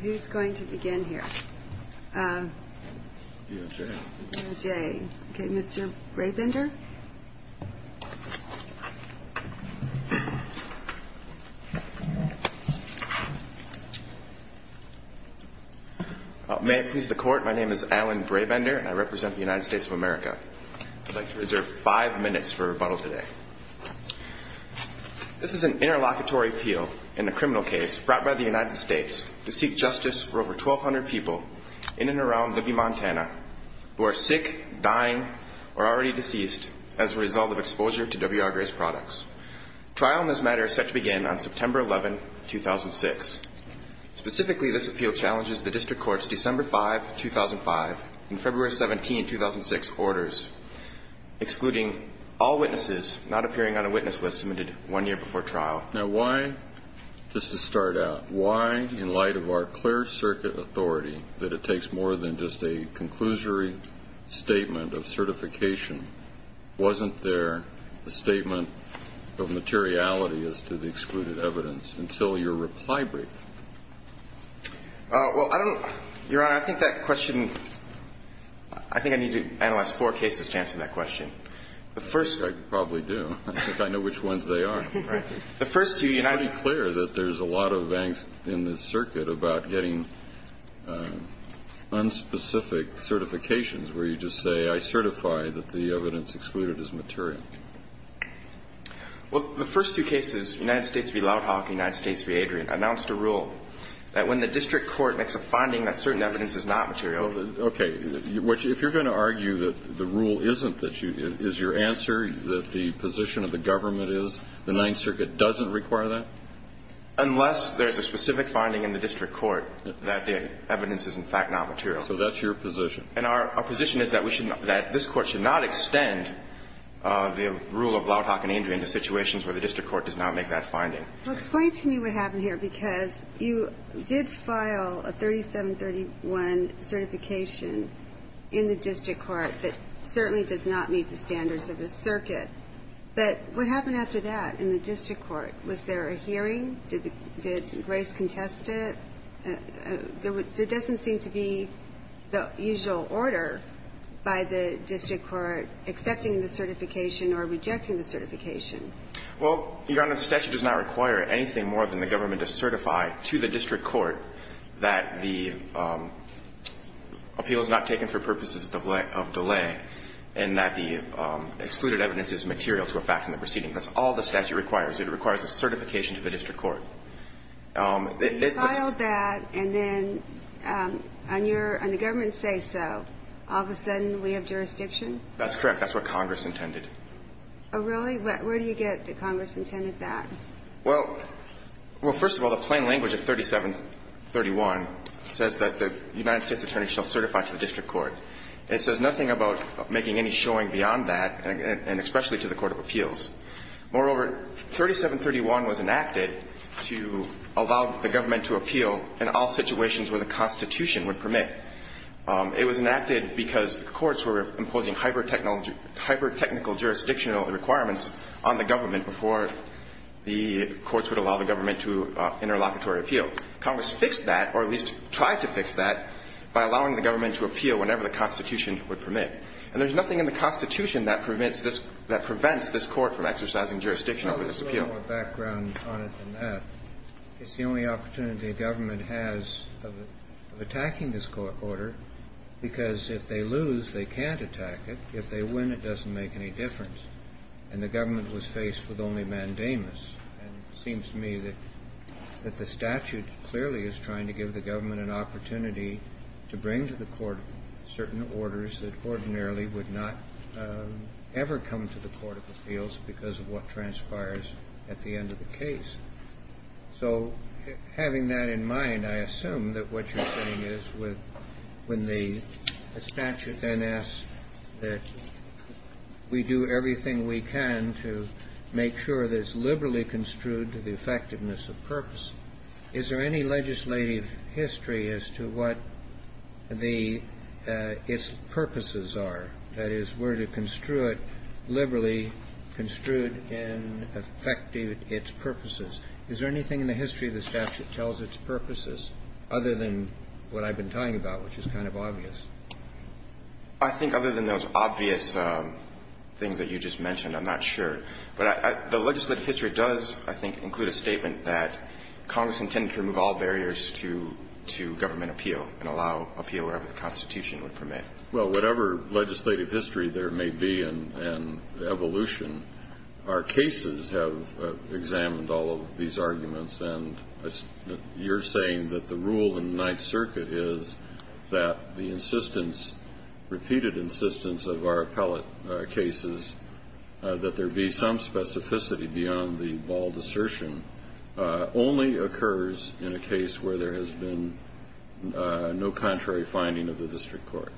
Who's going to begin here? May it please the Court, my name is Alan Brabender and I represent the United States of America. I'd like to reserve five minutes for rebuttal today. This is an interlocutory appeal in a criminal case brought by the United States to seek justice for over 1,200 people in and around Libby, Montana, who are sick, dying or already deceased as a result of exposure to W.R. Grace products. Trial in this matter is set to begin on September 11, 2006. Specifically, this appeal challenges the District Court's December 5, 2005 and February 17, 2006 orders, excluding all witnesses not appearing on a witness list submitted one year before trial. Now, why, just to start out, why, in light of our clear circuit authority, that it takes more than just a conclusory statement of certification, wasn't there a statement of materiality as to the excluded evidence until your reply break? Well, Your Honor, I think that question – I think I need to analyze four cases to answer that question. The first – I think I probably do. I think I know which ones they are. The first two – It's pretty clear that there's a lot of angst in this circuit about getting unspecific certifications, where you just say, I certify that the evidence excluded is material. Well, the first two cases, United States v. Loud Hawk, United States v. Adrian, announced a rule that when the District Court makes a finding that certain evidence is not material – Okay. If you're going to argue that the rule isn't that you – is your answer that the position of the government is, the Ninth Circuit doesn't require that? Unless there's a specific finding in the District Court that the evidence is, in fact, not material. So that's your position. And our position is that this Court should not extend the rule of Loud Hawk and Adrian to situations where the District Court does not make that finding. Well, explain to me what happened here, because you did file a 3731 certification in the District Court that certainly does not meet the standards of this circuit. But what happened after that in the District Court? Was there a hearing? Did Grace contest it? There doesn't seem to be the usual order by the District Court accepting the certification or rejecting the certification. Well, Your Honor, the statute does not require anything more than the government to certify to the District Court that the appeal is not taken for purposes of delay and that the excluded evidence is material to a fact in the proceeding. That's all the statute requires. It requires a certification to the District Court. So you filed that, and then on your – and the government says so. All of a sudden, we have jurisdiction? That's correct. That's what Congress intended. Oh, really? Where do you get that Congress intended that? Well, first of all, the plain language of 3731 says that the United States attorney shall certify to the District Court. of appeals. Moreover, 3731 was enacted to allow the government to appeal in all situations where the Constitution would permit. It was enacted because the courts were imposing hypertechnical jurisdictional requirements on the government before the courts would allow the government to interlocutory appeal. Congress fixed that, or at least tried to fix that, by allowing the government to appeal whenever the Constitution would permit. And there's nothing in the Constitution that prevents this – that prevents this Court from exercising jurisdiction over this appeal. Well, there's a little more background on it than that. It's the only opportunity a government has of attacking this order, because if they lose, they can't attack it. If they win, it doesn't make any difference. And the government was faced with only mandamus. to bring to the court certain orders that ordinarily would not ever come to the court of appeals because of what transpires at the end of the case. So having that in mind, I assume that what you're saying is when the statute then asks that we do everything we can to make sure that it's liberally construed to the effectiveness of purpose. Is there any legislative history as to what the – its purposes are? That is, were to construe it liberally construed in effecting its purposes. Is there anything in the history of the statute that tells its purposes other than what I've been talking about, which is kind of obvious? I think other than those obvious things that you just mentioned, I'm not sure. But the legislative history does, I think, include a statement that Congress intended to remove all barriers to government appeal and allow appeal wherever the Constitution would permit. Well, whatever legislative history there may be and evolution, our cases have examined all of these arguments. And you're saying that the rule in the Ninth Circuit is that the insistence, repeated insistence of our appellate cases, that there be some specificity beyond the bald assertion only occurs in a case where there has been no contrary finding of the district court.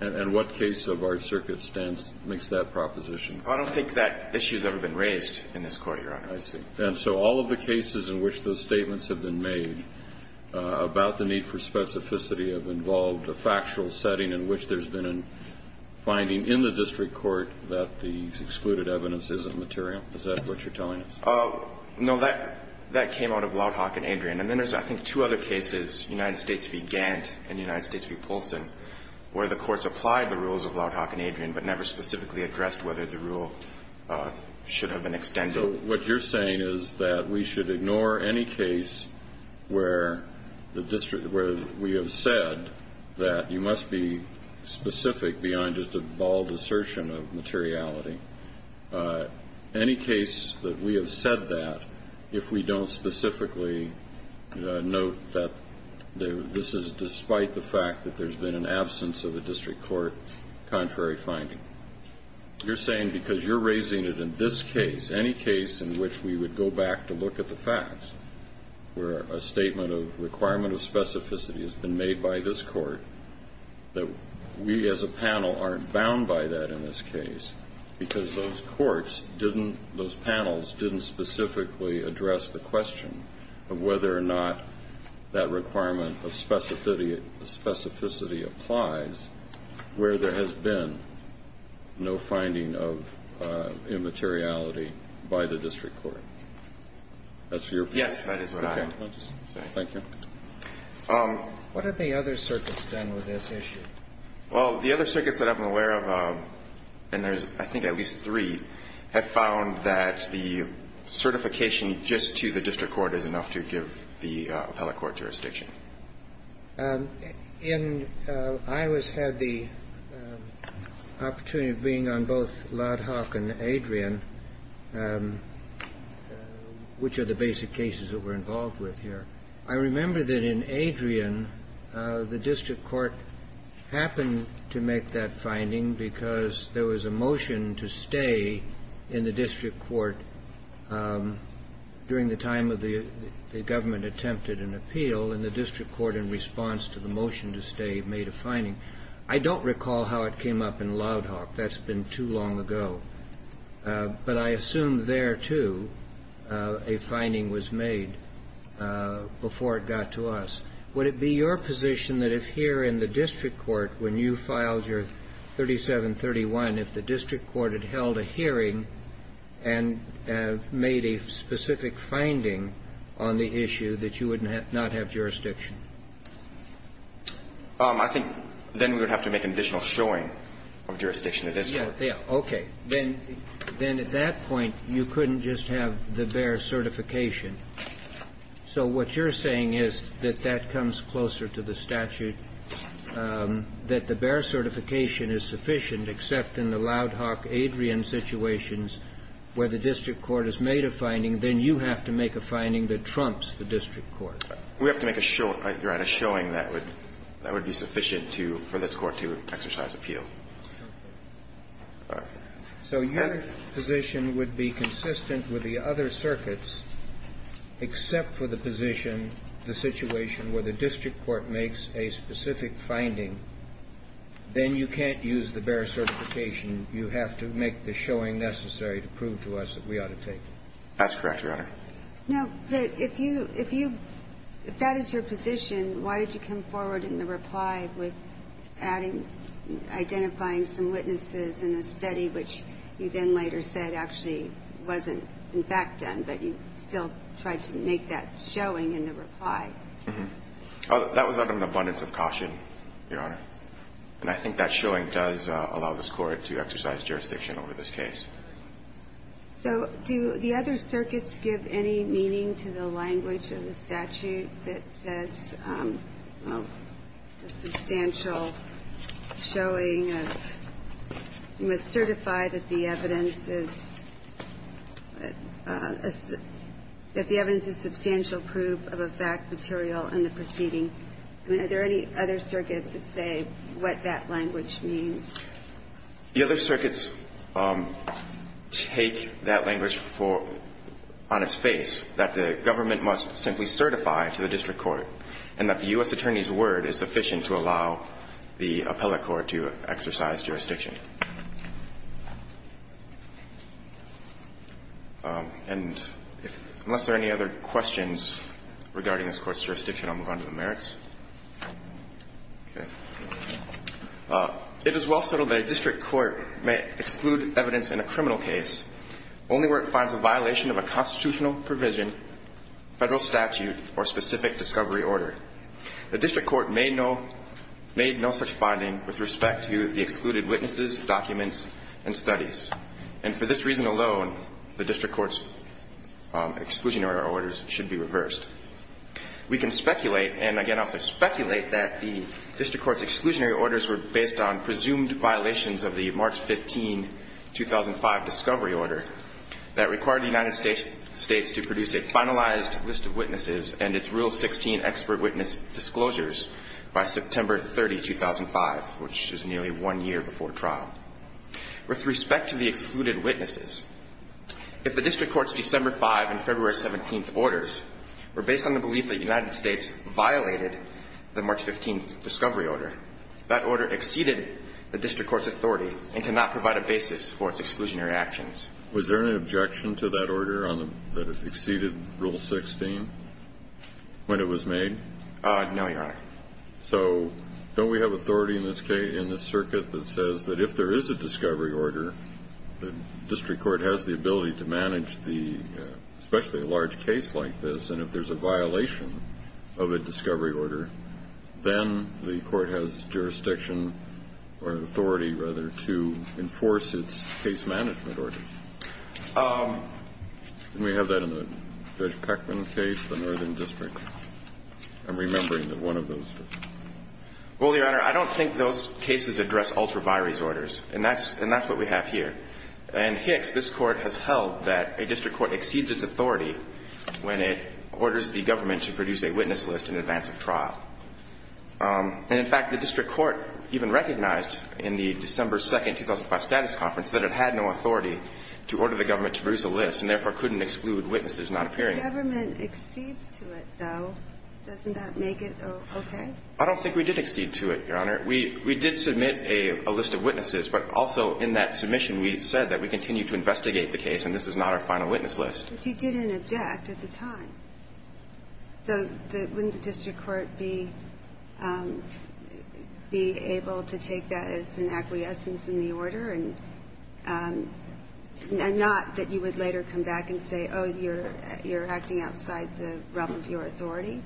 And what case of our circuit stands makes that proposition? I don't think that issue has ever been raised in this Court, Your Honor. I see. And so all of the cases in which those statements have been made about the need for finding in the district court that the excluded evidence isn't material, is that what you're telling us? No. That came out of Loudhock and Adrian. And then there's, I think, two other cases, United States v. Gant and United States v. Polson, where the courts applied the rules of Loudhock and Adrian but never specifically addressed whether the rule should have been extended. So what you're saying is that we should ignore any case where we have said that you are specific beyond just a bald assertion of materiality. Any case that we have said that, if we don't specifically note that this is despite the fact that there's been an absence of a district court contrary finding. You're saying because you're raising it in this case, any case in which we would go back to look at the facts, where a statement of requirement of specificity has been made by this court, that we as a panel aren't bound by that in this case because those courts didn't, those panels didn't specifically address the question of whether or not that requirement of specificity applies where there has been no finding of immateriality by the district court. That's your opinion? Yes, that is what I would say. Okay. Thank you. What have the other circuits done with this issue? Well, the other circuits that I'm aware of, and there's I think at least three, have found that the certification just to the district court is enough to give the appellate court jurisdiction. And I always had the opportunity of being on both Lodhock and Adrian, which are the basic cases that we're involved with here. I remember that in Adrian, the district court happened to make that finding because there was a motion to stay in the district court during the time of the government attempted an appeal, and the district court in response to the motion to stay made a finding. I don't recall how it came up in Lodhock. That's been too long ago. But I assume there, too, a finding was made before it got to us. Would it be your position that if here in the district court, when you filed your 3731, if the district court had held a hearing and made a specific finding on the issue that you would not have jurisdiction? I think then we would have to make an additional showing of jurisdiction in this case. Okay. Then at that point, you couldn't just have the bare certification. So what you're saying is that that comes closer to the statute, that the bare certification is sufficient except in the Lodhock-Adrian situations where the district court has made a finding. Then you have to make a finding that trumps the district court. We have to make a showing, Your Honor, a showing that would be sufficient for this court to exercise appeal. So your position would be consistent with the other circuits except for the position, the situation where the district court makes a specific finding. Then you can't use the bare certification. You have to make the showing necessary to prove to us that we ought to take it. That's correct, Your Honor. Now, if you – if that is your position, why did you come forward in the reply with adding – identifying some witnesses in a study which you then later said actually wasn't in fact done, but you still tried to make that showing in the reply? That was out of an abundance of caution, Your Honor. And I think that showing does allow this court to exercise jurisdiction over this case. So do the other circuits give any meaning to the language of the statute that says substantial showing of – you must certify that the evidence is – that the evidence is substantial proof of a fact material in the proceeding? I mean, are there any other circuits that say what that language means? The other circuits take that language for – on its face, that the government must simply certify to the district court and that the U.S. Attorney's word is sufficient to allow the appellate court to exercise jurisdiction. And if – unless there are any other questions regarding this Court's jurisdiction, I'll move on to the merits. Okay. It is well settled that a district court may exclude evidence in a criminal case only where it finds a violation of a constitutional provision, federal statute, or specific discovery order. The district court made no such finding with respect to the excluded witnesses, documents, and studies. And for this reason alone, the district court's exclusionary orders should be reversed. We can speculate, and again I'll say speculate, that the district court's exclusionary presumed violations of the March 15, 2005 discovery order that required the United States to produce a finalized list of witnesses and its Rule 16 expert witness disclosures by September 30, 2005, which is nearly one year before trial. With respect to the excluded witnesses, if the district court's December 5 and February 17 orders were based on the belief that the United States violated the March 15 discovery order, that order exceeded the district court's authority and cannot provide a basis for its exclusionary actions. Was there an objection to that order that exceeded Rule 16 when it was made? No, Your Honor. So don't we have authority in this circuit that says that if there is a discovery order, the district court has the ability to manage the – especially a large case like this, and if there's a violation of a discovery order, then the court has jurisdiction or authority, rather, to enforce its case management orders. Didn't we have that in the Judge Peckman case, the Northern District? I'm remembering that one of those. Well, Your Honor, I don't think those cases address ultra-virus orders. And that's what we have here. And Hicks, this Court, has held that a district court exceeds its authority when it orders the government to produce a witness list in advance of trial. And, in fact, the district court even recognized in the December 2, 2005, status conference that it had no authority to order the government to produce a list and, therefore, couldn't exclude witnesses not appearing. The government exceeds to it, though. Doesn't that make it okay? I don't think we did exceed to it, Your Honor. Your Honor, we did submit a list of witnesses, but also in that submission we said that we continue to investigate the case and this is not our final witness list. But you didn't object at the time. So wouldn't the district court be able to take that as an acquiescence in the order and not that you would later come back and say, oh, you're acting outside the realm of your authority?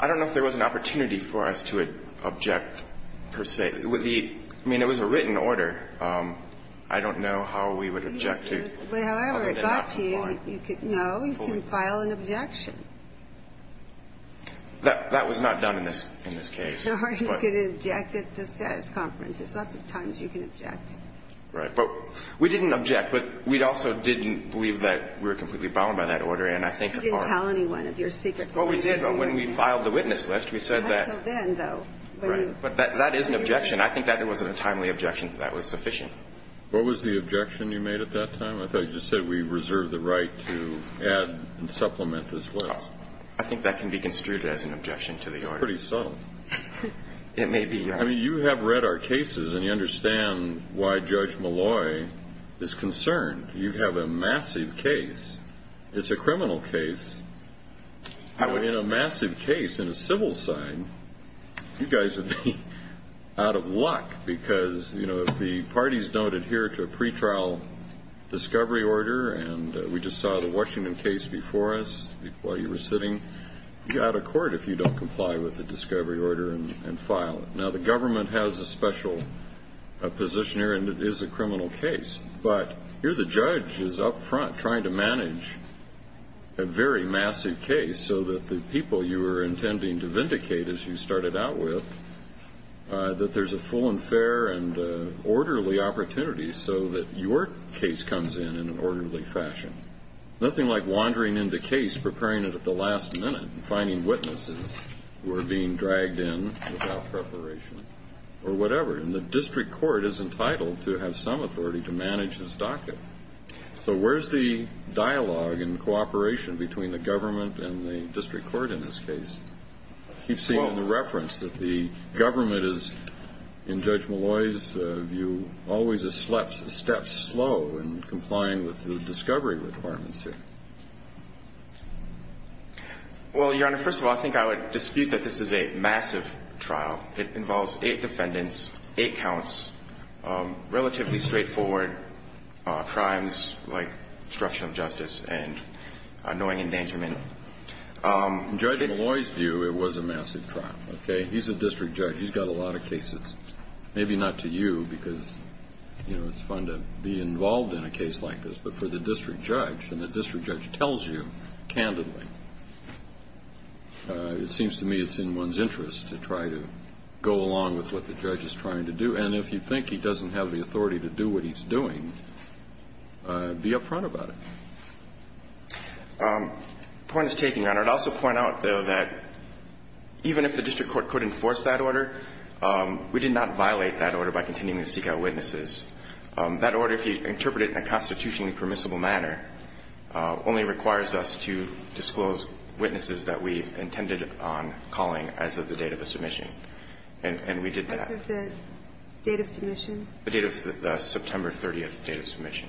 I don't know if there was an opportunity for us to object, per se. I mean, it was a written order. I don't know how we would object to it. However, it got to you. No, you can file an objection. That was not done in this case. Or you could object at the status conference. There's lots of times you can object. Right. But we didn't object, but we also didn't believe that we were completely bound by that order. And I think our... You didn't tell anyone of your secret... Well, we did, but when we filed the witness list, we said that... Not until then, though. Right. But that is an objection. I think that it was a timely objection. That was sufficient. What was the objection you made at that time? I thought you just said we reserve the right to add and supplement this list. I think that can be construed as an objection to the order. It's pretty subtle. It may be. I mean, you have read our cases and you understand why Judge Malloy is concerned. You have a massive case. It's a criminal case. In a massive case, in a civil side, you guys would be out of luck because, you know, if the parties don't adhere to a pretrial discovery order, and we just saw the Washington case before us while you were sitting, you're out of court if you don't comply with the discovery order and file it. Now, the government has a special position here, and it is a criminal case. But here the judge is up front trying to manage a very massive case so that the people you were intending to vindicate, as you started out with, that there's a full and fair and orderly opportunity so that your case comes in in an orderly fashion. Nothing like wandering in the case, preparing it at the last minute, and finding witnesses who are being dragged in without preparation or whatever. And the district court is entitled to have some authority to manage this docket. So where's the dialogue and cooperation between the government and the district court in this case? You've seen in the reference that the government is, in Judge Malloy's view, always a step slow in complying with the discovery requirements here. Well, Your Honor, first of all, I think I would dispute that this is a massive trial. It involves eight defendants, eight counts, relatively straightforward crimes like obstruction of justice and annoying endangerment. In Judge Malloy's view, it was a massive trial, okay? He's a district judge. He's got a lot of cases. Maybe not to you because, you know, it's fun to be involved in a case like this, but for the district judge, and the district judge tells you candidly, it seems to me it's in one's interest to try to go along with what the judge is trying to do. And if you think he doesn't have the authority to do what he's doing, be up front about it. The point is taken, Your Honor. I'd also point out, though, that even if the district court could enforce that order, we did not violate that order by continuing to seek out witnesses. That order, if you interpret it in a constitutionally permissible manner, only requires us to disclose witnesses that we intended on calling as of the date of the submission. And we did that. As of the date of submission? The date of the September 30th date of submission.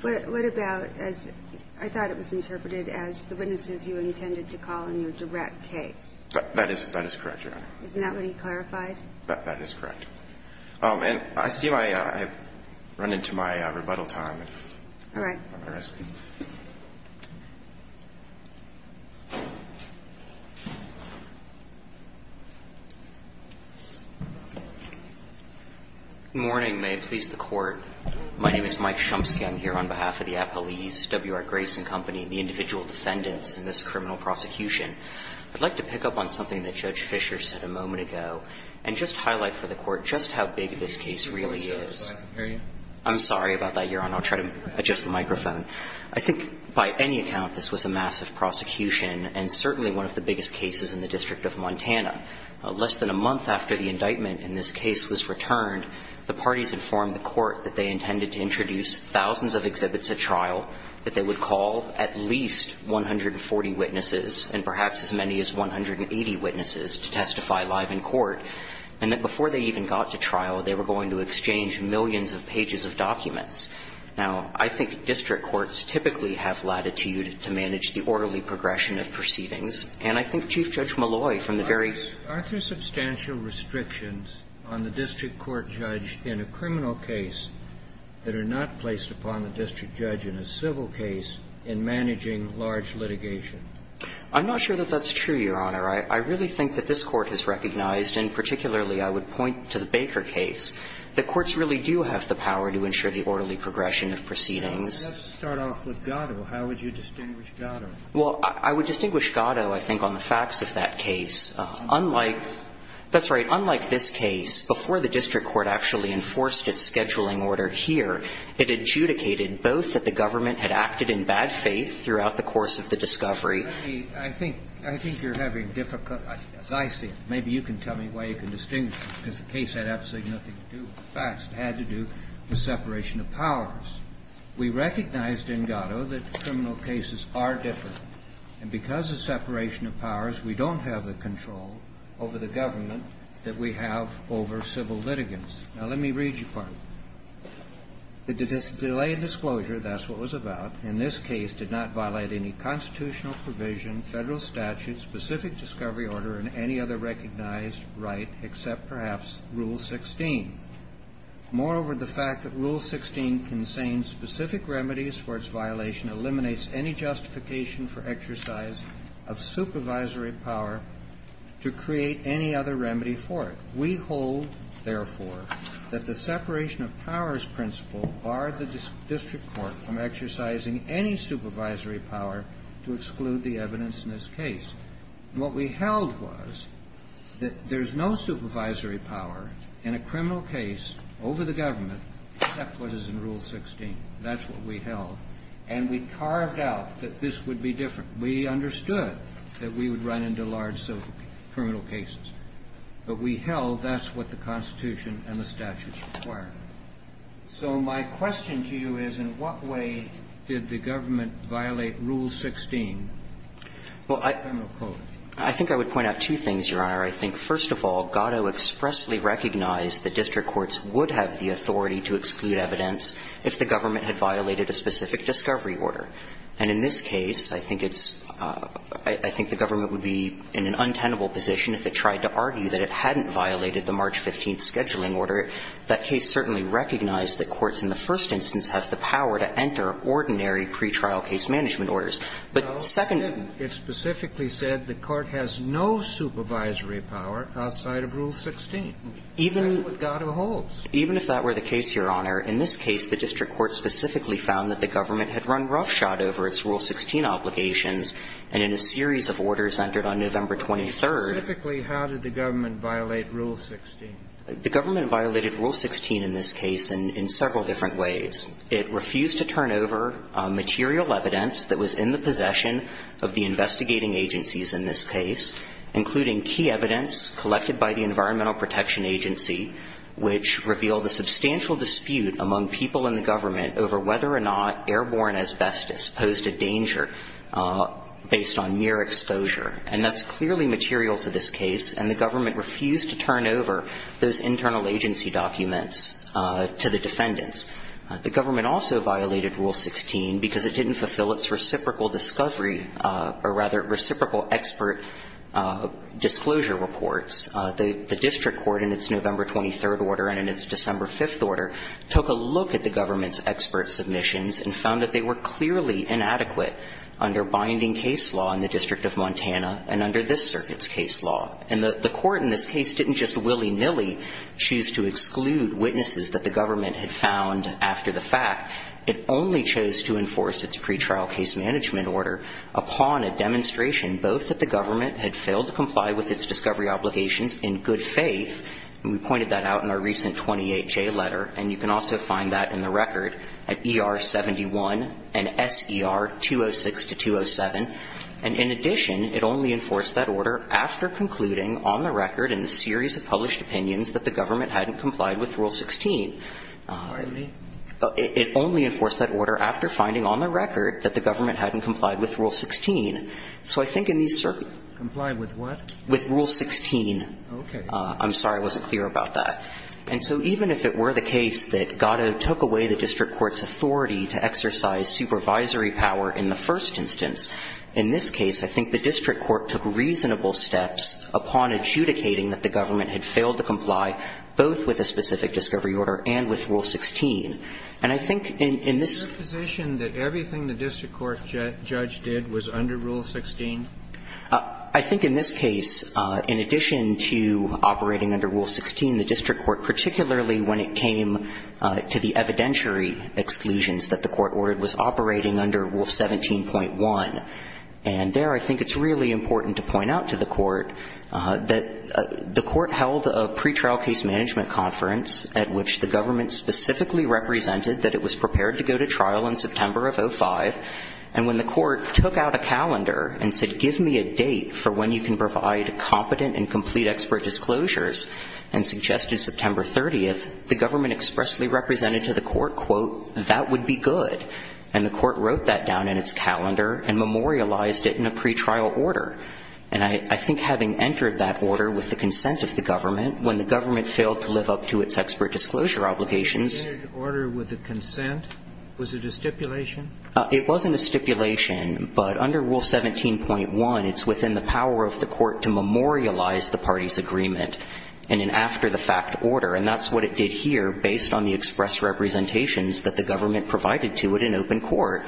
What about, as I thought it was interpreted, as the witnesses you intended to call in your direct case? That is correct, Your Honor. Isn't that what he clarified? That is correct. And I see I've run into my rebuttal time. All right. I'll let the rest of you. Good morning. May it please the Court. My name is Mike Shumsky. I'm here on behalf of the Appalese W.R. Grayson Company, the individual defendants in this criminal prosecution. I'd like to pick up on something that Judge Fisher said a moment ago and just highlight for the Court just how big this case really is. I'm sorry about that, Your Honor. I'll try to adjust the microphone. I think by any account, this was a massive prosecution and certainly one of the biggest cases in the District of Montana. Less than a month after the indictment in this case was returned, the parties informed the Court that they intended to introduce thousands of exhibits at trial, that they would call at least 140 witnesses and perhaps as many as 180 witnesses to testify live in court, and that before they even got to trial, they were going to exchange millions of pages of documents. Now, I think district courts typically have latitude to manage the orderly progression of proceedings. And I think Chief Judge Malloy, from the very ---- Are there substantial restrictions on the district court judge in a criminal case that are not placed upon the district judge in a civil case in managing large litigation? I'm not sure that that's true, Your Honor. I really think that this Court has recognized, and particularly I would point to the fact that courts really do have the power to ensure the orderly progression of proceedings. And let's start off with Gatto. How would you distinguish Gatto? Well, I would distinguish Gatto, I think, on the facts of that case. Unlike ---- That's right. Unlike this case, before the district court actually enforced its scheduling order here, it adjudicated both that the government had acted in bad faith throughout the course of the discovery. Let me ---- I think you're having difficulty. As I see it. Maybe you can tell me why you can distinguish it, because the case had absolutely nothing to do with the facts. It had to do with separation of powers. We recognized in Gatto that criminal cases are different. And because of separation of powers, we don't have the control over the government that we have over civil litigants. Now, let me read you part of it. The delay in disclosure, that's what it was about, in this case did not violate any constitutional provision, federal statute, specific discovery order, and any other recognized right except perhaps Rule 16. Moreover, the fact that Rule 16 contains specific remedies for its violation eliminates any justification for exercise of supervisory power to create any other remedy for it. We hold, therefore, that the separation of powers principle barred the district court from exercising any supervisory power to exclude the evidence in this case. And what we held was that there's no supervisory power in a criminal case over the government except what is in Rule 16. That's what we held. And we carved out that this would be different. We understood that we would run into large civil criminal cases. But we held that's what the Constitution and the statutes required. So my question to you is, in what way did the government violate Rule 16? Well, I think I would point out two things, Your Honor. I think, first of all, Gatto expressly recognized the district courts would have the authority to exclude evidence if the government had violated a specific discovery order. And in this case, I think it's – I think the government would be in an untenable position if it tried to argue that it hadn't violated the March 15th scheduling order. That case certainly recognized that courts in the first instance have the power to enter ordinary pretrial case management orders. But second – Well, it didn't. It specifically said the court has no supervisory power outside of Rule 16. Even – That's what Gatto holds. Even if that were the case, Your Honor, in this case, the district court specifically found that the government had run roughshod over its Rule 16 obligations, and in a series of orders entered on November 23rd – Specifically, how did the government violate Rule 16? The government violated Rule 16 in this case in several different ways. It refused to turn over material evidence that was in the possession of the investigating agencies in this case, including key evidence collected by the Environmental Protection Agency, which revealed a substantial dispute among people in the government over whether or not airborne asbestos posed a danger based on mere exposure. And that's clearly material to this case, and the government refused to turn over those internal agency documents to the defendants. The government also violated Rule 16 because it didn't fulfill its reciprocal discovery – or rather, reciprocal expert disclosure reports. The district court, in its November 23rd order and in its December 5th order, took a look at the government's expert submissions and found that they were clearly inadequate under binding case law in the District of Montana and under this circuit's case law. And the court in this case didn't just willy-nilly choose to exclude witnesses that the government had found after the fact. It only chose to enforce its pretrial case management order upon a demonstration both that the government had failed to comply with its discovery obligations in good faith – and we pointed that out in our recent 28-J letter, and you can also find that in the record at ER 71 and SER 206 to 207. And in addition, it only enforced that order after concluding on the record in a series of published opinions that the government hadn't complied with Rule 16. It only enforced that order after finding on the record that the government hadn't complied with Rule 16. So I think in these circuits – Complied with what? With Rule 16. Okay. I'm sorry I wasn't clear about that. And so even if it were the case that Gatto took away the district court's authority to exercise supervisory power in the first instance, in this case, I think the district court took reasonable steps upon adjudicating that the government had failed to comply both with a specific discovery order and with Rule 16. And I think in this – Is it your position that everything the district court judge did was under Rule 16? I think in this case, in addition to operating under Rule 16, the district court, particularly when it came to the evidentiary exclusions that the court ordered, was operating under Rule 17.1. And there, I think it's really important to point out to the court that the court held a pretrial case management conference at which the government specifically represented that it was prepared to go to trial in September of 2005. And when the court took out a calendar and said, give me a date for when you can provide competent and complete expert disclosures, and suggested September 30th, the government expressly represented to the court, quote, that would be good. And the court wrote that down in its calendar and memorialized it in a pretrial order. And I think having entered that order with the consent of the government, when the government failed to live up to its expert disclosure obligations – Entered the order with a consent? Was it a stipulation? It wasn't a stipulation. But under Rule 17.1, it's within the power of the court to memorialize the party's agreement in an after-the-fact order. And that's what it did here, based on the express representations that the government provided to it in open court.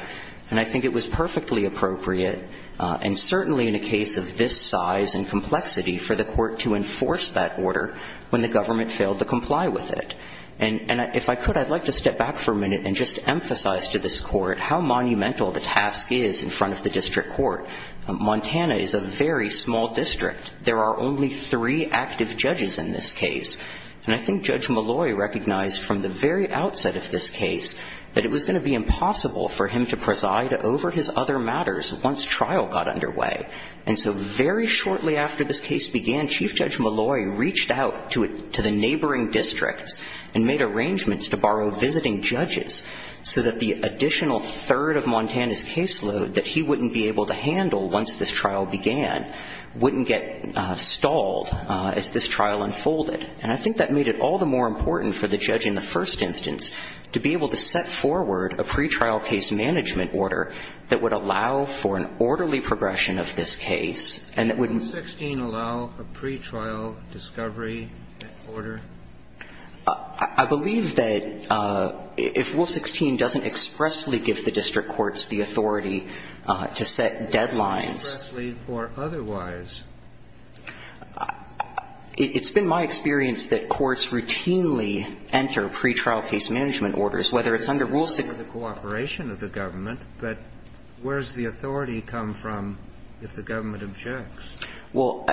And I think it was perfectly appropriate, and certainly in a case of this size and complexity, for the court to enforce that order when the government failed to comply with it. And if I could, I'd like to step back for a minute and just emphasize to this court how monumental the task is in front of the district court. Montana is a very small district. There are only three active judges in this case. And I think Judge Malloy recognized from the very outset of this case that it was going to be impossible for him to preside over his other matters once trial got underway. And so very shortly after this case began, Chief Judge Malloy reached out to the neighboring districts and made arrangements to borrow visiting judges so that the additional third of Montana's caseload that he wouldn't be able to handle once this trial began wouldn't get stalled as this trial unfolded. And I think that made it all the more important for the judge in the first instance to be able to set forward a pretrial case management order that would allow for an orderly progression of this case and that would be... Can Rule 16 allow a pretrial discovery order? I believe that if Rule 16 doesn't expressly give the district courts the authority to set deadlines... Expressly or otherwise? It's been my experience that courts routinely enter pretrial case management orders, whether it's under Rule 16... It's under the cooperation of the government, but where does the authority come from if the government objects? Well,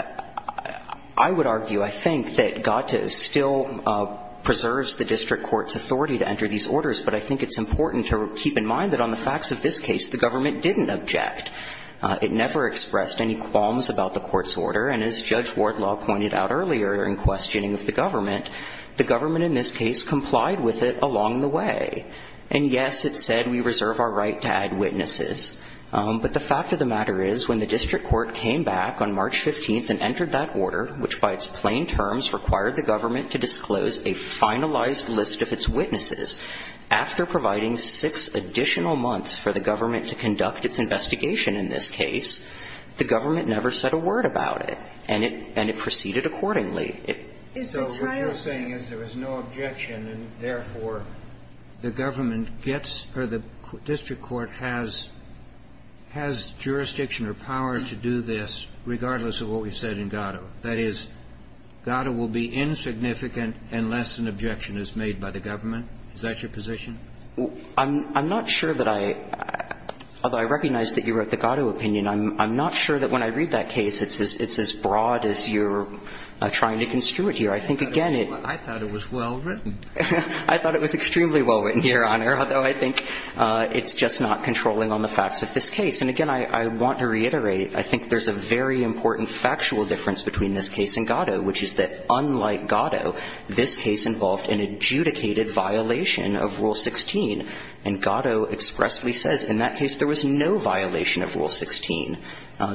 I would argue, I think, that GATA still preserves the district court's authority to enter these orders, but I think it's important to keep in mind that on the facts of this case, the government didn't object. It never expressed any qualms about the court's order, and as Judge Wardlaw pointed out earlier in questioning of the government, the government in this case complied with it along the way. And yes, it said we reserve our right to add witnesses, but the fact of the matter is when the district court came back on March 15th and entered that order, which by its plain terms required the government to disclose a finalized list of its witnesses, after providing six additional months for the government to conduct its investigation in this case, the government never said a word about it, and it proceeded accordingly. So what you're saying is there was no objection, and therefore, the government gets, or the district court has jurisdiction or power to do this regardless of what we said in GATA. That is, GATA will be insignificant unless an objection is made by the government. Is that your position? I'm not sure that I – although I recognize that you wrote the GATO opinion, I'm not sure that when I read that case it's as broad as you're trying to construe it here. I think, again, it – I thought it was well written. I thought it was extremely well written, Your Honor, although I think it's just not controlling on the facts of this case. And again, I want to reiterate, I think there's a very important factual difference between this case and GATO, which is that unlike GATO, this case involved an adjudicated violation of Rule 16. And GATO expressly says in that case there was no violation of Rule 16.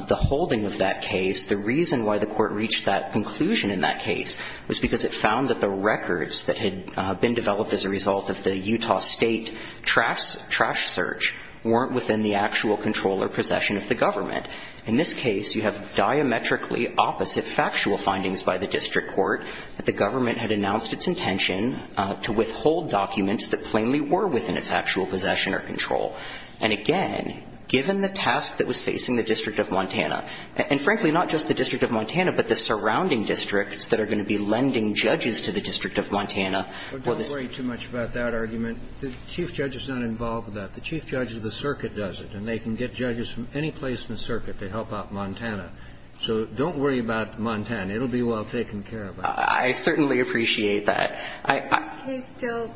The holding of that case, the reason why the court reached that conclusion in that case was because it found that the records that had been developed as a result of the Utah State trash search weren't within the actual control or possession of the government. In this case, you have diametrically opposite factual findings by the district court that the government had announced its intention to withhold documents that plainly were within its actual possession or control. And again, given the task that was facing the District of Montana, and frankly not just the District of Montana, but the surrounding districts that are going to be lending judges to the District of Montana. Well, this – Don't worry too much about that argument. The chief judge is not involved with that. The chief judge of the circuit does it. And they can get judges from any place in the circuit to help out Montana. So don't worry about Montana. It'll be well taken care of. I certainly appreciate that. Is this case still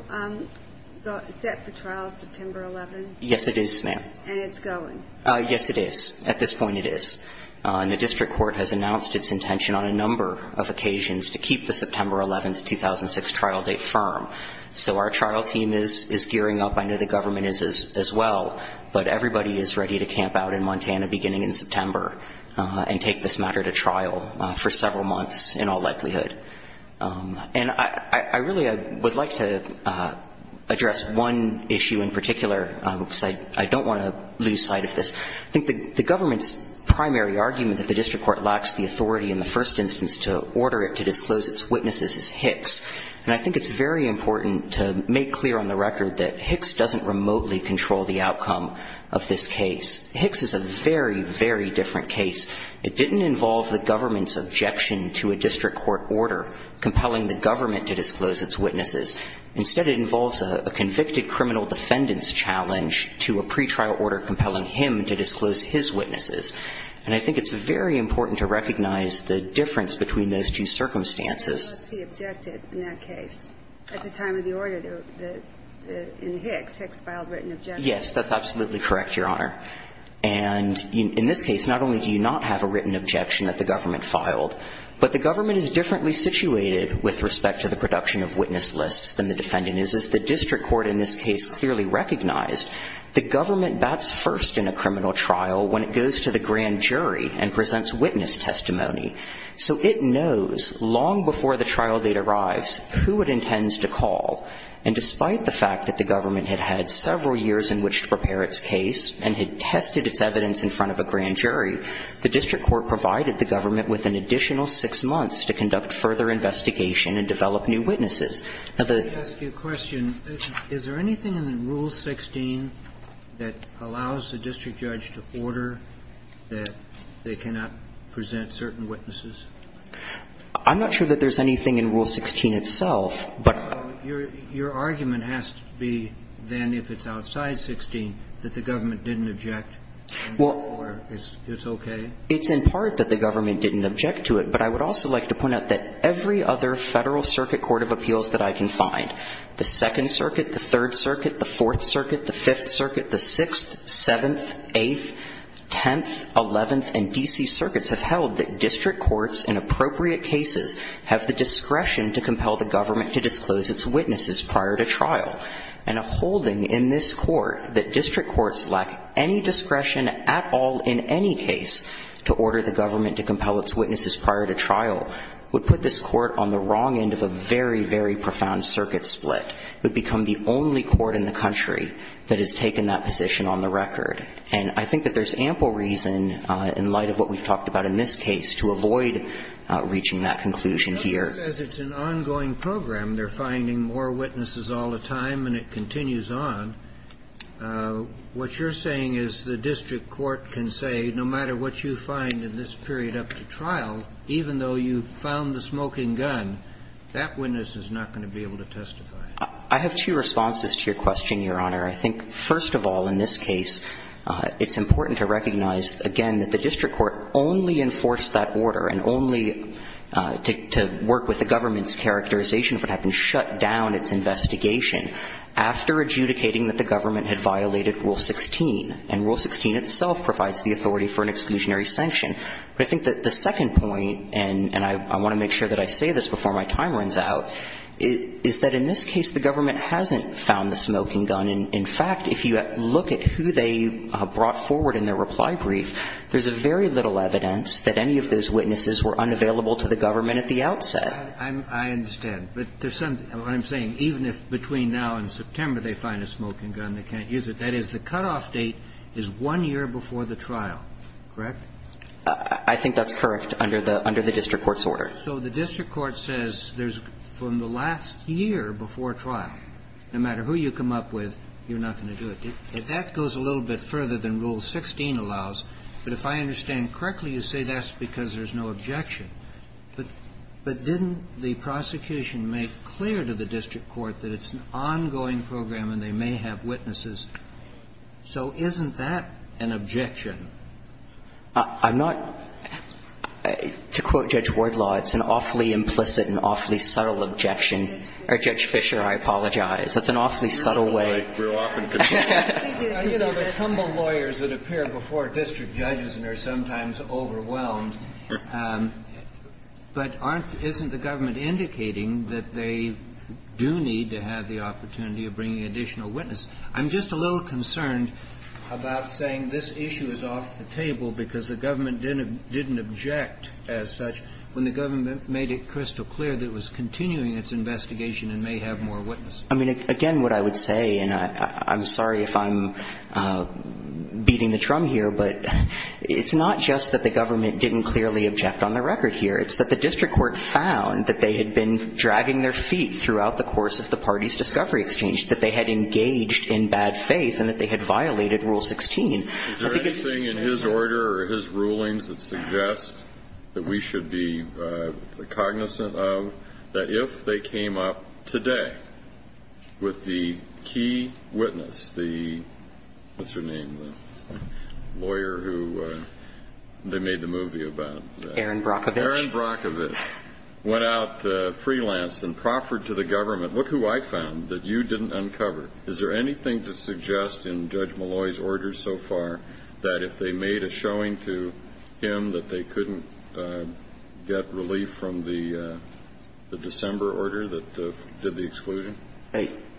set for trial September 11th? Yes, it is, ma'am. And it's going? Yes, it is. At this point, it is. And the district court has announced its intention on a number of occasions to keep the September 11th, 2006 trial date firm. So our trial team is gearing up. I know the government is as well. But everybody is ready to camp out in Montana beginning in September and take this matter to trial for several months in all likelihood. And I really would like to address one issue in particular because I don't want to lose sight of this. I think the government's primary argument that the district court lacks the authority in the first instance to order it to disclose its witnesses is Hicks. And I think it's very important to make clear on the record that Hicks doesn't remotely control the outcome of this case. Hicks is a very, very different case. It didn't involve the government's objection to a district court order compelling the government to disclose its witnesses. Instead, it involves a convicted criminal defendant's challenge to a pretrial order compelling him to disclose his witnesses. And I think it's very important to recognize the difference between those two circumstances. But that's the objective in that case. At the time of the order in Hicks, Hicks filed written objections. Yes, that's absolutely correct, Your Honor. And in this case, not only do you not have a written objection that the government filed, but the government is differently situated with respect to the production of witness lists than the defendant is. As the district court in this case clearly recognized, the government bats first in a criminal trial when it goes to the grand jury and presents witness testimony. So it knows long before the trial date arrives who it intends to call. And despite the fact that the government had had several years in which to prepare its case and had tested its evidence in front of a grand jury, the district court provided the government with an additional six months to conduct further investigation and develop new witnesses. Now, the ---- Kennedy, I'd like to ask you a question. Is there anything in Rule 16 that allows the district judge to order that they cannot present certain witnesses? I'm not sure that there's anything in Rule 16 itself, but ---- Your argument has to be then if it's outside 16 that the government didn't object and therefore it's okay? It's in part that the government didn't object to it, but I would also like to point out that every other Federal Circuit Court of Appeals that I can find, the Second Circuit, the Third Circuit, the Fourth Circuit, the Fifth Circuit, the Sixth, Seventh, Eighth, Tenth, Eleventh, and D.C. Circuits have held that district courts in appropriate cases have the discretion to compel the government to disclose its witnesses prior to trial. And a holding in this Court that district courts lack any discretion at all in any case to order the government to compel its witnesses prior to trial would put this Court on the wrong end of a very, very profound circuit split. It would become the only court in the country that has taken that position on the record. And I think that there's ample reason in light of what we've talked about in this case in that conclusion here. But just as it's an ongoing program, they're finding more witnesses all the time and it continues on, what you're saying is the district court can say, no matter what you find in this period up to trial, even though you found the smoking gun, that witness is not going to be able to testify. I have two responses to your question, Your Honor. I think, first of all, in this case, it's important to recognize, again, that the district court has the authority to work with the government's characterization if it had been shut down, its investigation, after adjudicating that the government had violated Rule 16. And Rule 16 itself provides the authority for an exclusionary sanction. But I think that the second point, and I want to make sure that I say this before my time runs out, is that in this case the government hasn't found the smoking gun. In fact, if you look at who they brought forward in their reply brief, there's very little evidence that any of those witnesses were unavailable to the government at the outset. I understand. But there's something to what I'm saying. Even if between now and September they find a smoking gun, they can't use it. That is, the cutoff date is one year before the trial, correct? I think that's correct under the district court's order. So the district court says there's, from the last year before trial, no matter who you come up with, you're not going to do it. That goes a little bit further than Rule 16 allows. But if I understand correctly, you say that's because there's no objection. But didn't the prosecution make clear to the district court that it's an ongoing program and they may have witnesses? So isn't that an objection? I'm not to quote Judge Wardlaw. It's an awfully implicit and awfully subtle objection. Or Judge Fischer, I apologize. That's an awfully subtle way. I think there are those humble lawyers that appear before district judges and are sometimes overwhelmed. But aren't the government indicating that they do need to have the opportunity of bringing additional witnesses? I'm just a little concerned about saying this issue is off the table because the government didn't object as such when the government made it crystal clear that it was continuing its investigation and may have more witnesses. I mean, again, what I would say, and I'm sorry if I'm beating the drum here, but it's not just that the government didn't clearly object on the record here. It's that the district court found that they had been dragging their feet throughout the course of the party's discovery exchange, that they had engaged in bad faith and that they had violated Rule 16. Is there anything in his order or his rulings that suggests that we should be cognizant of that if they came up today with the key witness, the what's-her-name, the lawyer who they made the movie about? Aaron Brockovich. Aaron Brockovich went out freelance and proffered to the government, look who I found that you didn't uncover. Is there anything to suggest in Judge Malloy's orders so far that if they made a showing to him that they couldn't get relief from the December order that did the exclusion?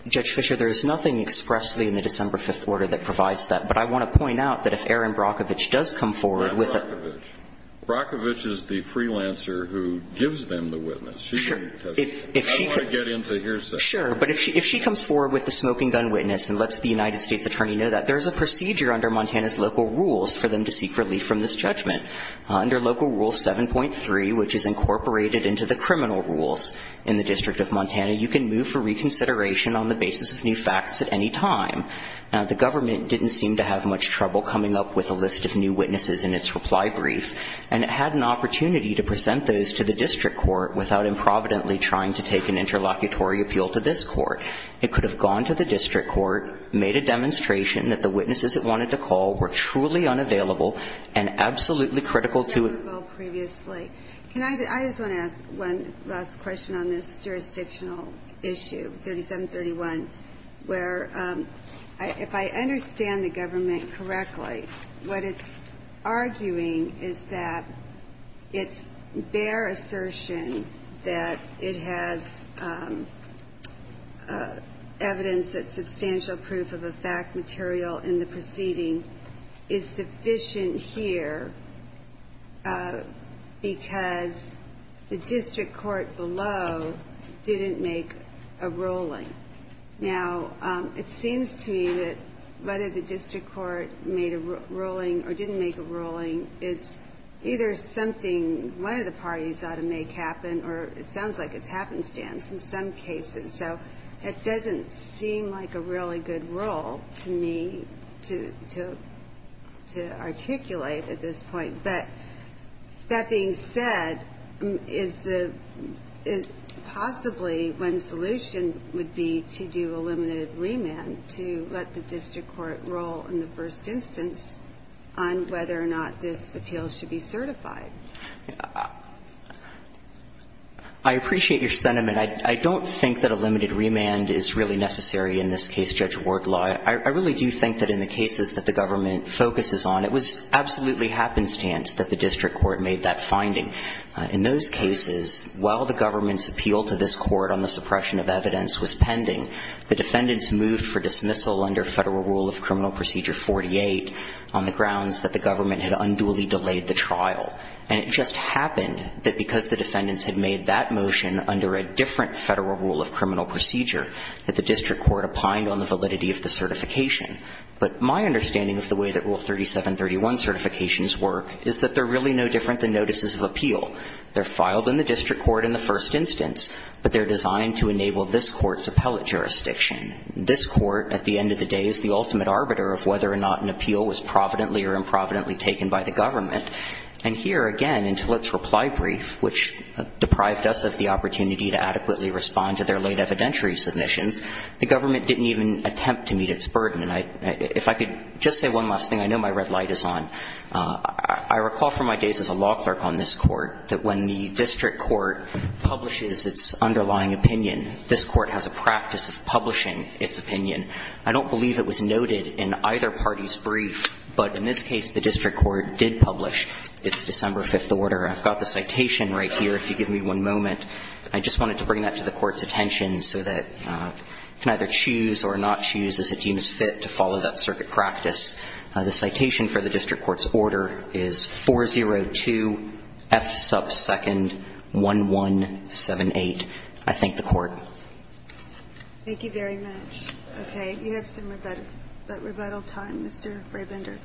Judge Fischer, there is nothing expressly in the December 5th order that provides that. But I want to point out that if Aaron Brockovich does come forward with a ---- Not Brockovich. Brockovich is the freelancer who gives them the witness. Sure. I don't want to get into hearsay. Sure. But if she comes forward with the smoking gun witness and lets the United States Attorney know that, there's a procedure under Montana's local rules for them to seek relief from this judgment. Under Local Rule 7.3, which is incorporated into the criminal rules in the District of Montana, you can move for reconsideration on the basis of new facts at any time. The government didn't seem to have much trouble coming up with a list of new witnesses in its reply brief, and it had an opportunity to present those to the district court without improvidently trying to take an interlocutory appeal to this court. It could have gone to the district court, made a demonstration that the witnesses it wanted to call were truly unavailable, and absolutely critical to it. I just want to ask one last question on this jurisdictional issue, 3731, where if I understand the government correctly, what it's arguing is that its bare assertion that it has evidence that substantial proof of a fact material in the proceeding is sufficient here because the district court below didn't make a ruling. Now, it seems to me that whether the district court made a ruling or didn't make a ruling is either something one of the parties ought to make happen, or it sounds like it's a happenstance in some cases. So it doesn't seem like a really good rule to me to articulate at this point. But that being said, is the – possibly one solution would be to do a limited remand to let the district court rule in the first instance on whether or not this appeal should be certified. I appreciate your sentiment. I don't think that a limited remand is really necessary in this case, Judge Wardlaw. I really do think that in the cases that the government focuses on, it was absolutely happenstance that the district court made that finding. In those cases, while the government's appeal to this court on the suppression of evidence was pending, the defendants moved for dismissal under Federal Rule of Criminal Procedure, and it just happened that because the defendants had made that motion under a different Federal Rule of Criminal Procedure that the district court opined on the validity of the certification. But my understanding of the way that Rule 3731 certifications work is that they're really no different than notices of appeal. They're filed in the district court in the first instance, but they're designed to enable this Court's appellate jurisdiction. This Court, at the end of the day, is the ultimate arbiter of whether or not an appeal was providently or improvidently taken by the government. And here, again, in Tillett's reply brief, which deprived us of the opportunity to adequately respond to their late evidentiary submissions, the government didn't even attempt to meet its burden. And if I could just say one last thing, I know my red light is on. I recall from my days as a law clerk on this Court that when the district court publishes its underlying opinion, this Court has a practice of publishing its opinion. I don't believe it was noted in either party's brief, but in this case, the district court did publish its December 5th order. I've got the citation right here, if you give me one moment. I just wanted to bring that to the Court's attention so that you can either choose or not choose as it deems fit to follow that circuit practice. The citation for the district court's order is 402 F sub 2nd 1178. I thank the Court. Thank you very much. Okay. You have some rebuttal time. Mr. Brabender.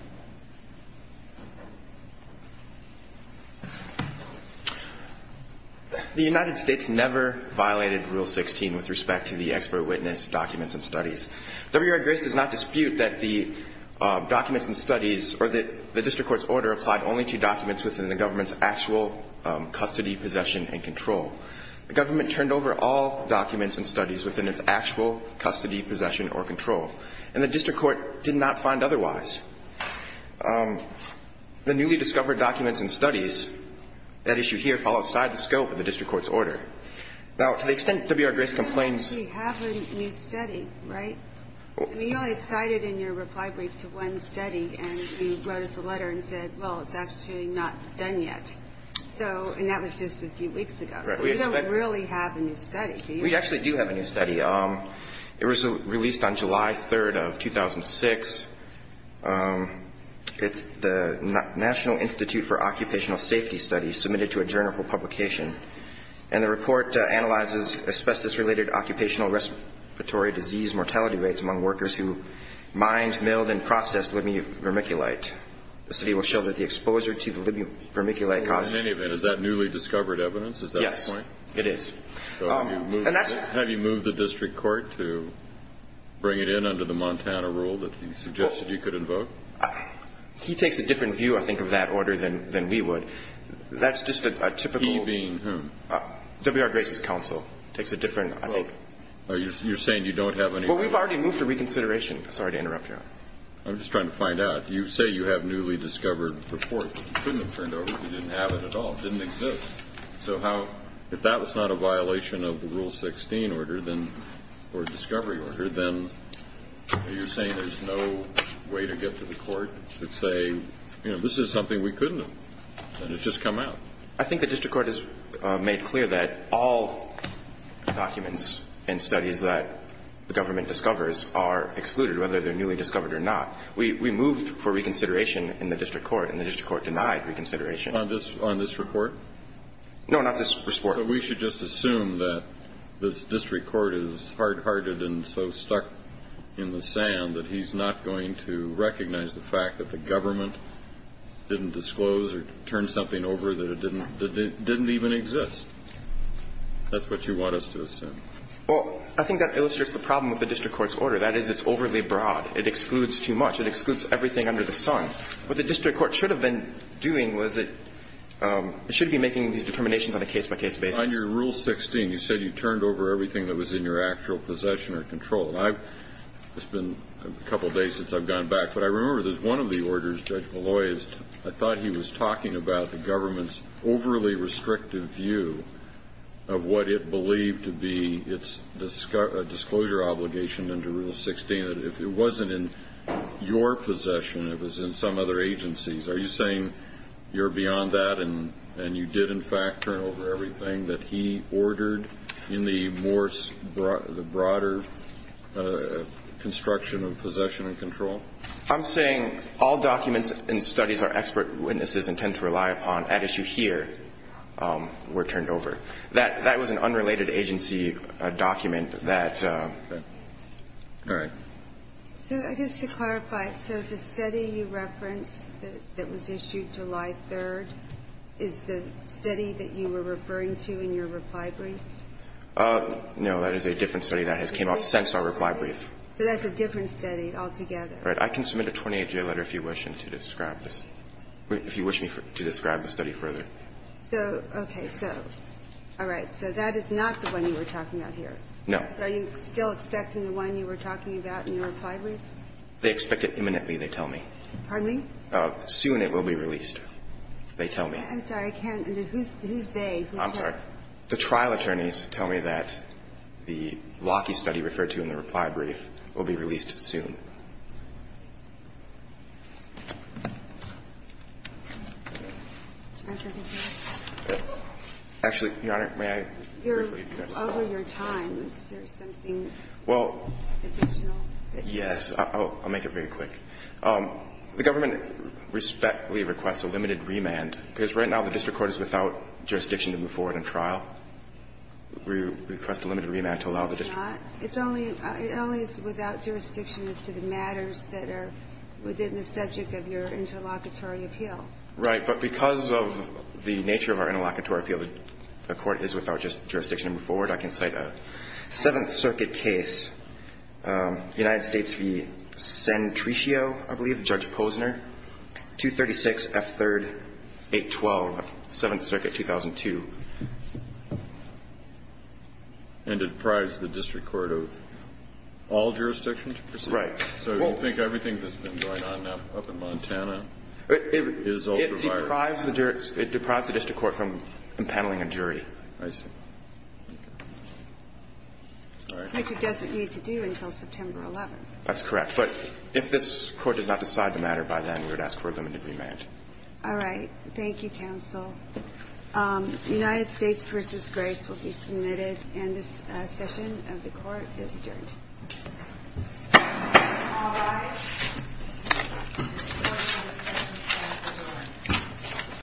The United States never violated Rule 16 with respect to the expert witness documents and studies. W.R. Grace does not dispute that the documents and studies or that the district court's order applied only to documents within the government's actual custody, possession and control. The government turned over all documents and studies within its actual custody, possession or control. And the district court did not find otherwise. The newly discovered documents and studies, that issue here, fall outside the scope of the district court's order. Now, to the extent W.R. Grace complains. We have a new study, right? I mean, you only cited in your reply brief to one study, and you wrote us a letter and said, well, it's actually not done yet. So, and that was just a few weeks ago. So we don't really have a new study, do you? We actually do have a new study. It was released on July 3rd of 2006. It's the National Institute for Occupational Safety Study, submitted to a journal for publication. And the report analyzes asbestos-related occupational respiratory disease mortality rates among workers who mined, milled and processed Libium vermiculite. The study will show that the exposure to the Libium vermiculite caused. In any event, is that newly discovered evidence? Is that the point? Yes, it is. So have you moved the district court to bring it in under the Montana rule that you suggested you could invoke? He takes a different view, I think, of that order than we would. That's just a typical. He being whom? W.R. Grace's counsel takes a different, I think. You're saying you don't have any. Well, we've already moved to reconsideration. Sorry to interrupt, Your Honor. I'm just trying to find out. You say you have newly discovered reports. You couldn't have turned over if you didn't have it at all. It didn't exist. So how – if that was not a violation of the Rule 16 order, then – or discovery order, then are you saying there's no way to get to the court to say, you know, this is something we couldn't have, and it's just come out? I think the district court has made clear that all documents and studies that the government discovers are excluded, whether they're newly discovered or not. We moved for reconsideration in the district court, and the district court denied reconsideration. On this report? No, not this report. So we should just assume that the district court is hard-hearted and so stuck in the sand that he's not going to recognize the fact that the government didn't disclose or turn something over that didn't even exist. That's what you want us to assume. Well, I think that illustrates the problem with the district court's order. That is, it's overly broad. It excludes too much. It excludes everything under the sun. What the district court should have been doing was it – it should be making these determinations on a case-by-case basis. On your Rule 16, you said you turned over everything that was in your actual possession or control. And I've – it's been a couple of days since I've gone back, but I remember there's one of the orders, Judge Malloy, I thought he was talking about the government's overly restrictive view of what it believed to be its disclosure obligation under Rule 16. Are you saying that if it wasn't in your possession, it was in some other agency's? Are you saying you're beyond that and you did, in fact, turn over everything that he ordered in the more – the broader construction of possession and control? I'm saying all documents and studies our expert witnesses intend to rely upon at issue here were turned over. That was an unrelated agency document that – All right. So just to clarify, so the study you referenced that was issued July 3rd is the study that you were referring to in your reply brief? No. That is a different study that has come out since our reply brief. So that's a different study altogether. Right. I can submit a 28-day letter if you wish to describe this – if you wish me to describe the study further. So, okay. So, all right. So that is not the one you were talking about here? No. So are you still expecting the one you were talking about in your reply brief? They expect it imminently, they tell me. Pardon me? Soon it will be released, they tell me. I'm sorry. I can't – who's they? I'm sorry. The trial attorneys tell me that the Lockheed study referred to in the reply brief will be released soon. Actually, Your Honor, may I briefly address this? Over your time, is there something additional? Well, yes. I'll make it very quick. The government respectfully requests a limited remand, because right now the district court is without jurisdiction to move forward in trial. We request a limited remand to allow the district court to move forward. It's not. It only is without jurisdiction as to the matters that are within the subject of your interlocutory appeal. Right. But because of the nature of our interlocutory appeal, the court is without jurisdiction to move forward. I can cite a Seventh Circuit case, United States v. Santriccio, I believe, Judge Posner, 236 F. 3rd, 812, Seventh Circuit, 2002. And it deprives the district court of all jurisdiction to proceed? Right. So you think everything that's been going on up in Montana is ultraviolent? It deprives the district court from impaneling a jury. I see. All right. Which it doesn't need to do until September 11th. That's correct. But if this Court does not decide the matter by then, we would ask for a limited remand. All right. Thank you, Counsel. United States v. Grace will be submitted, and this session of the Court is adjourned. All rise.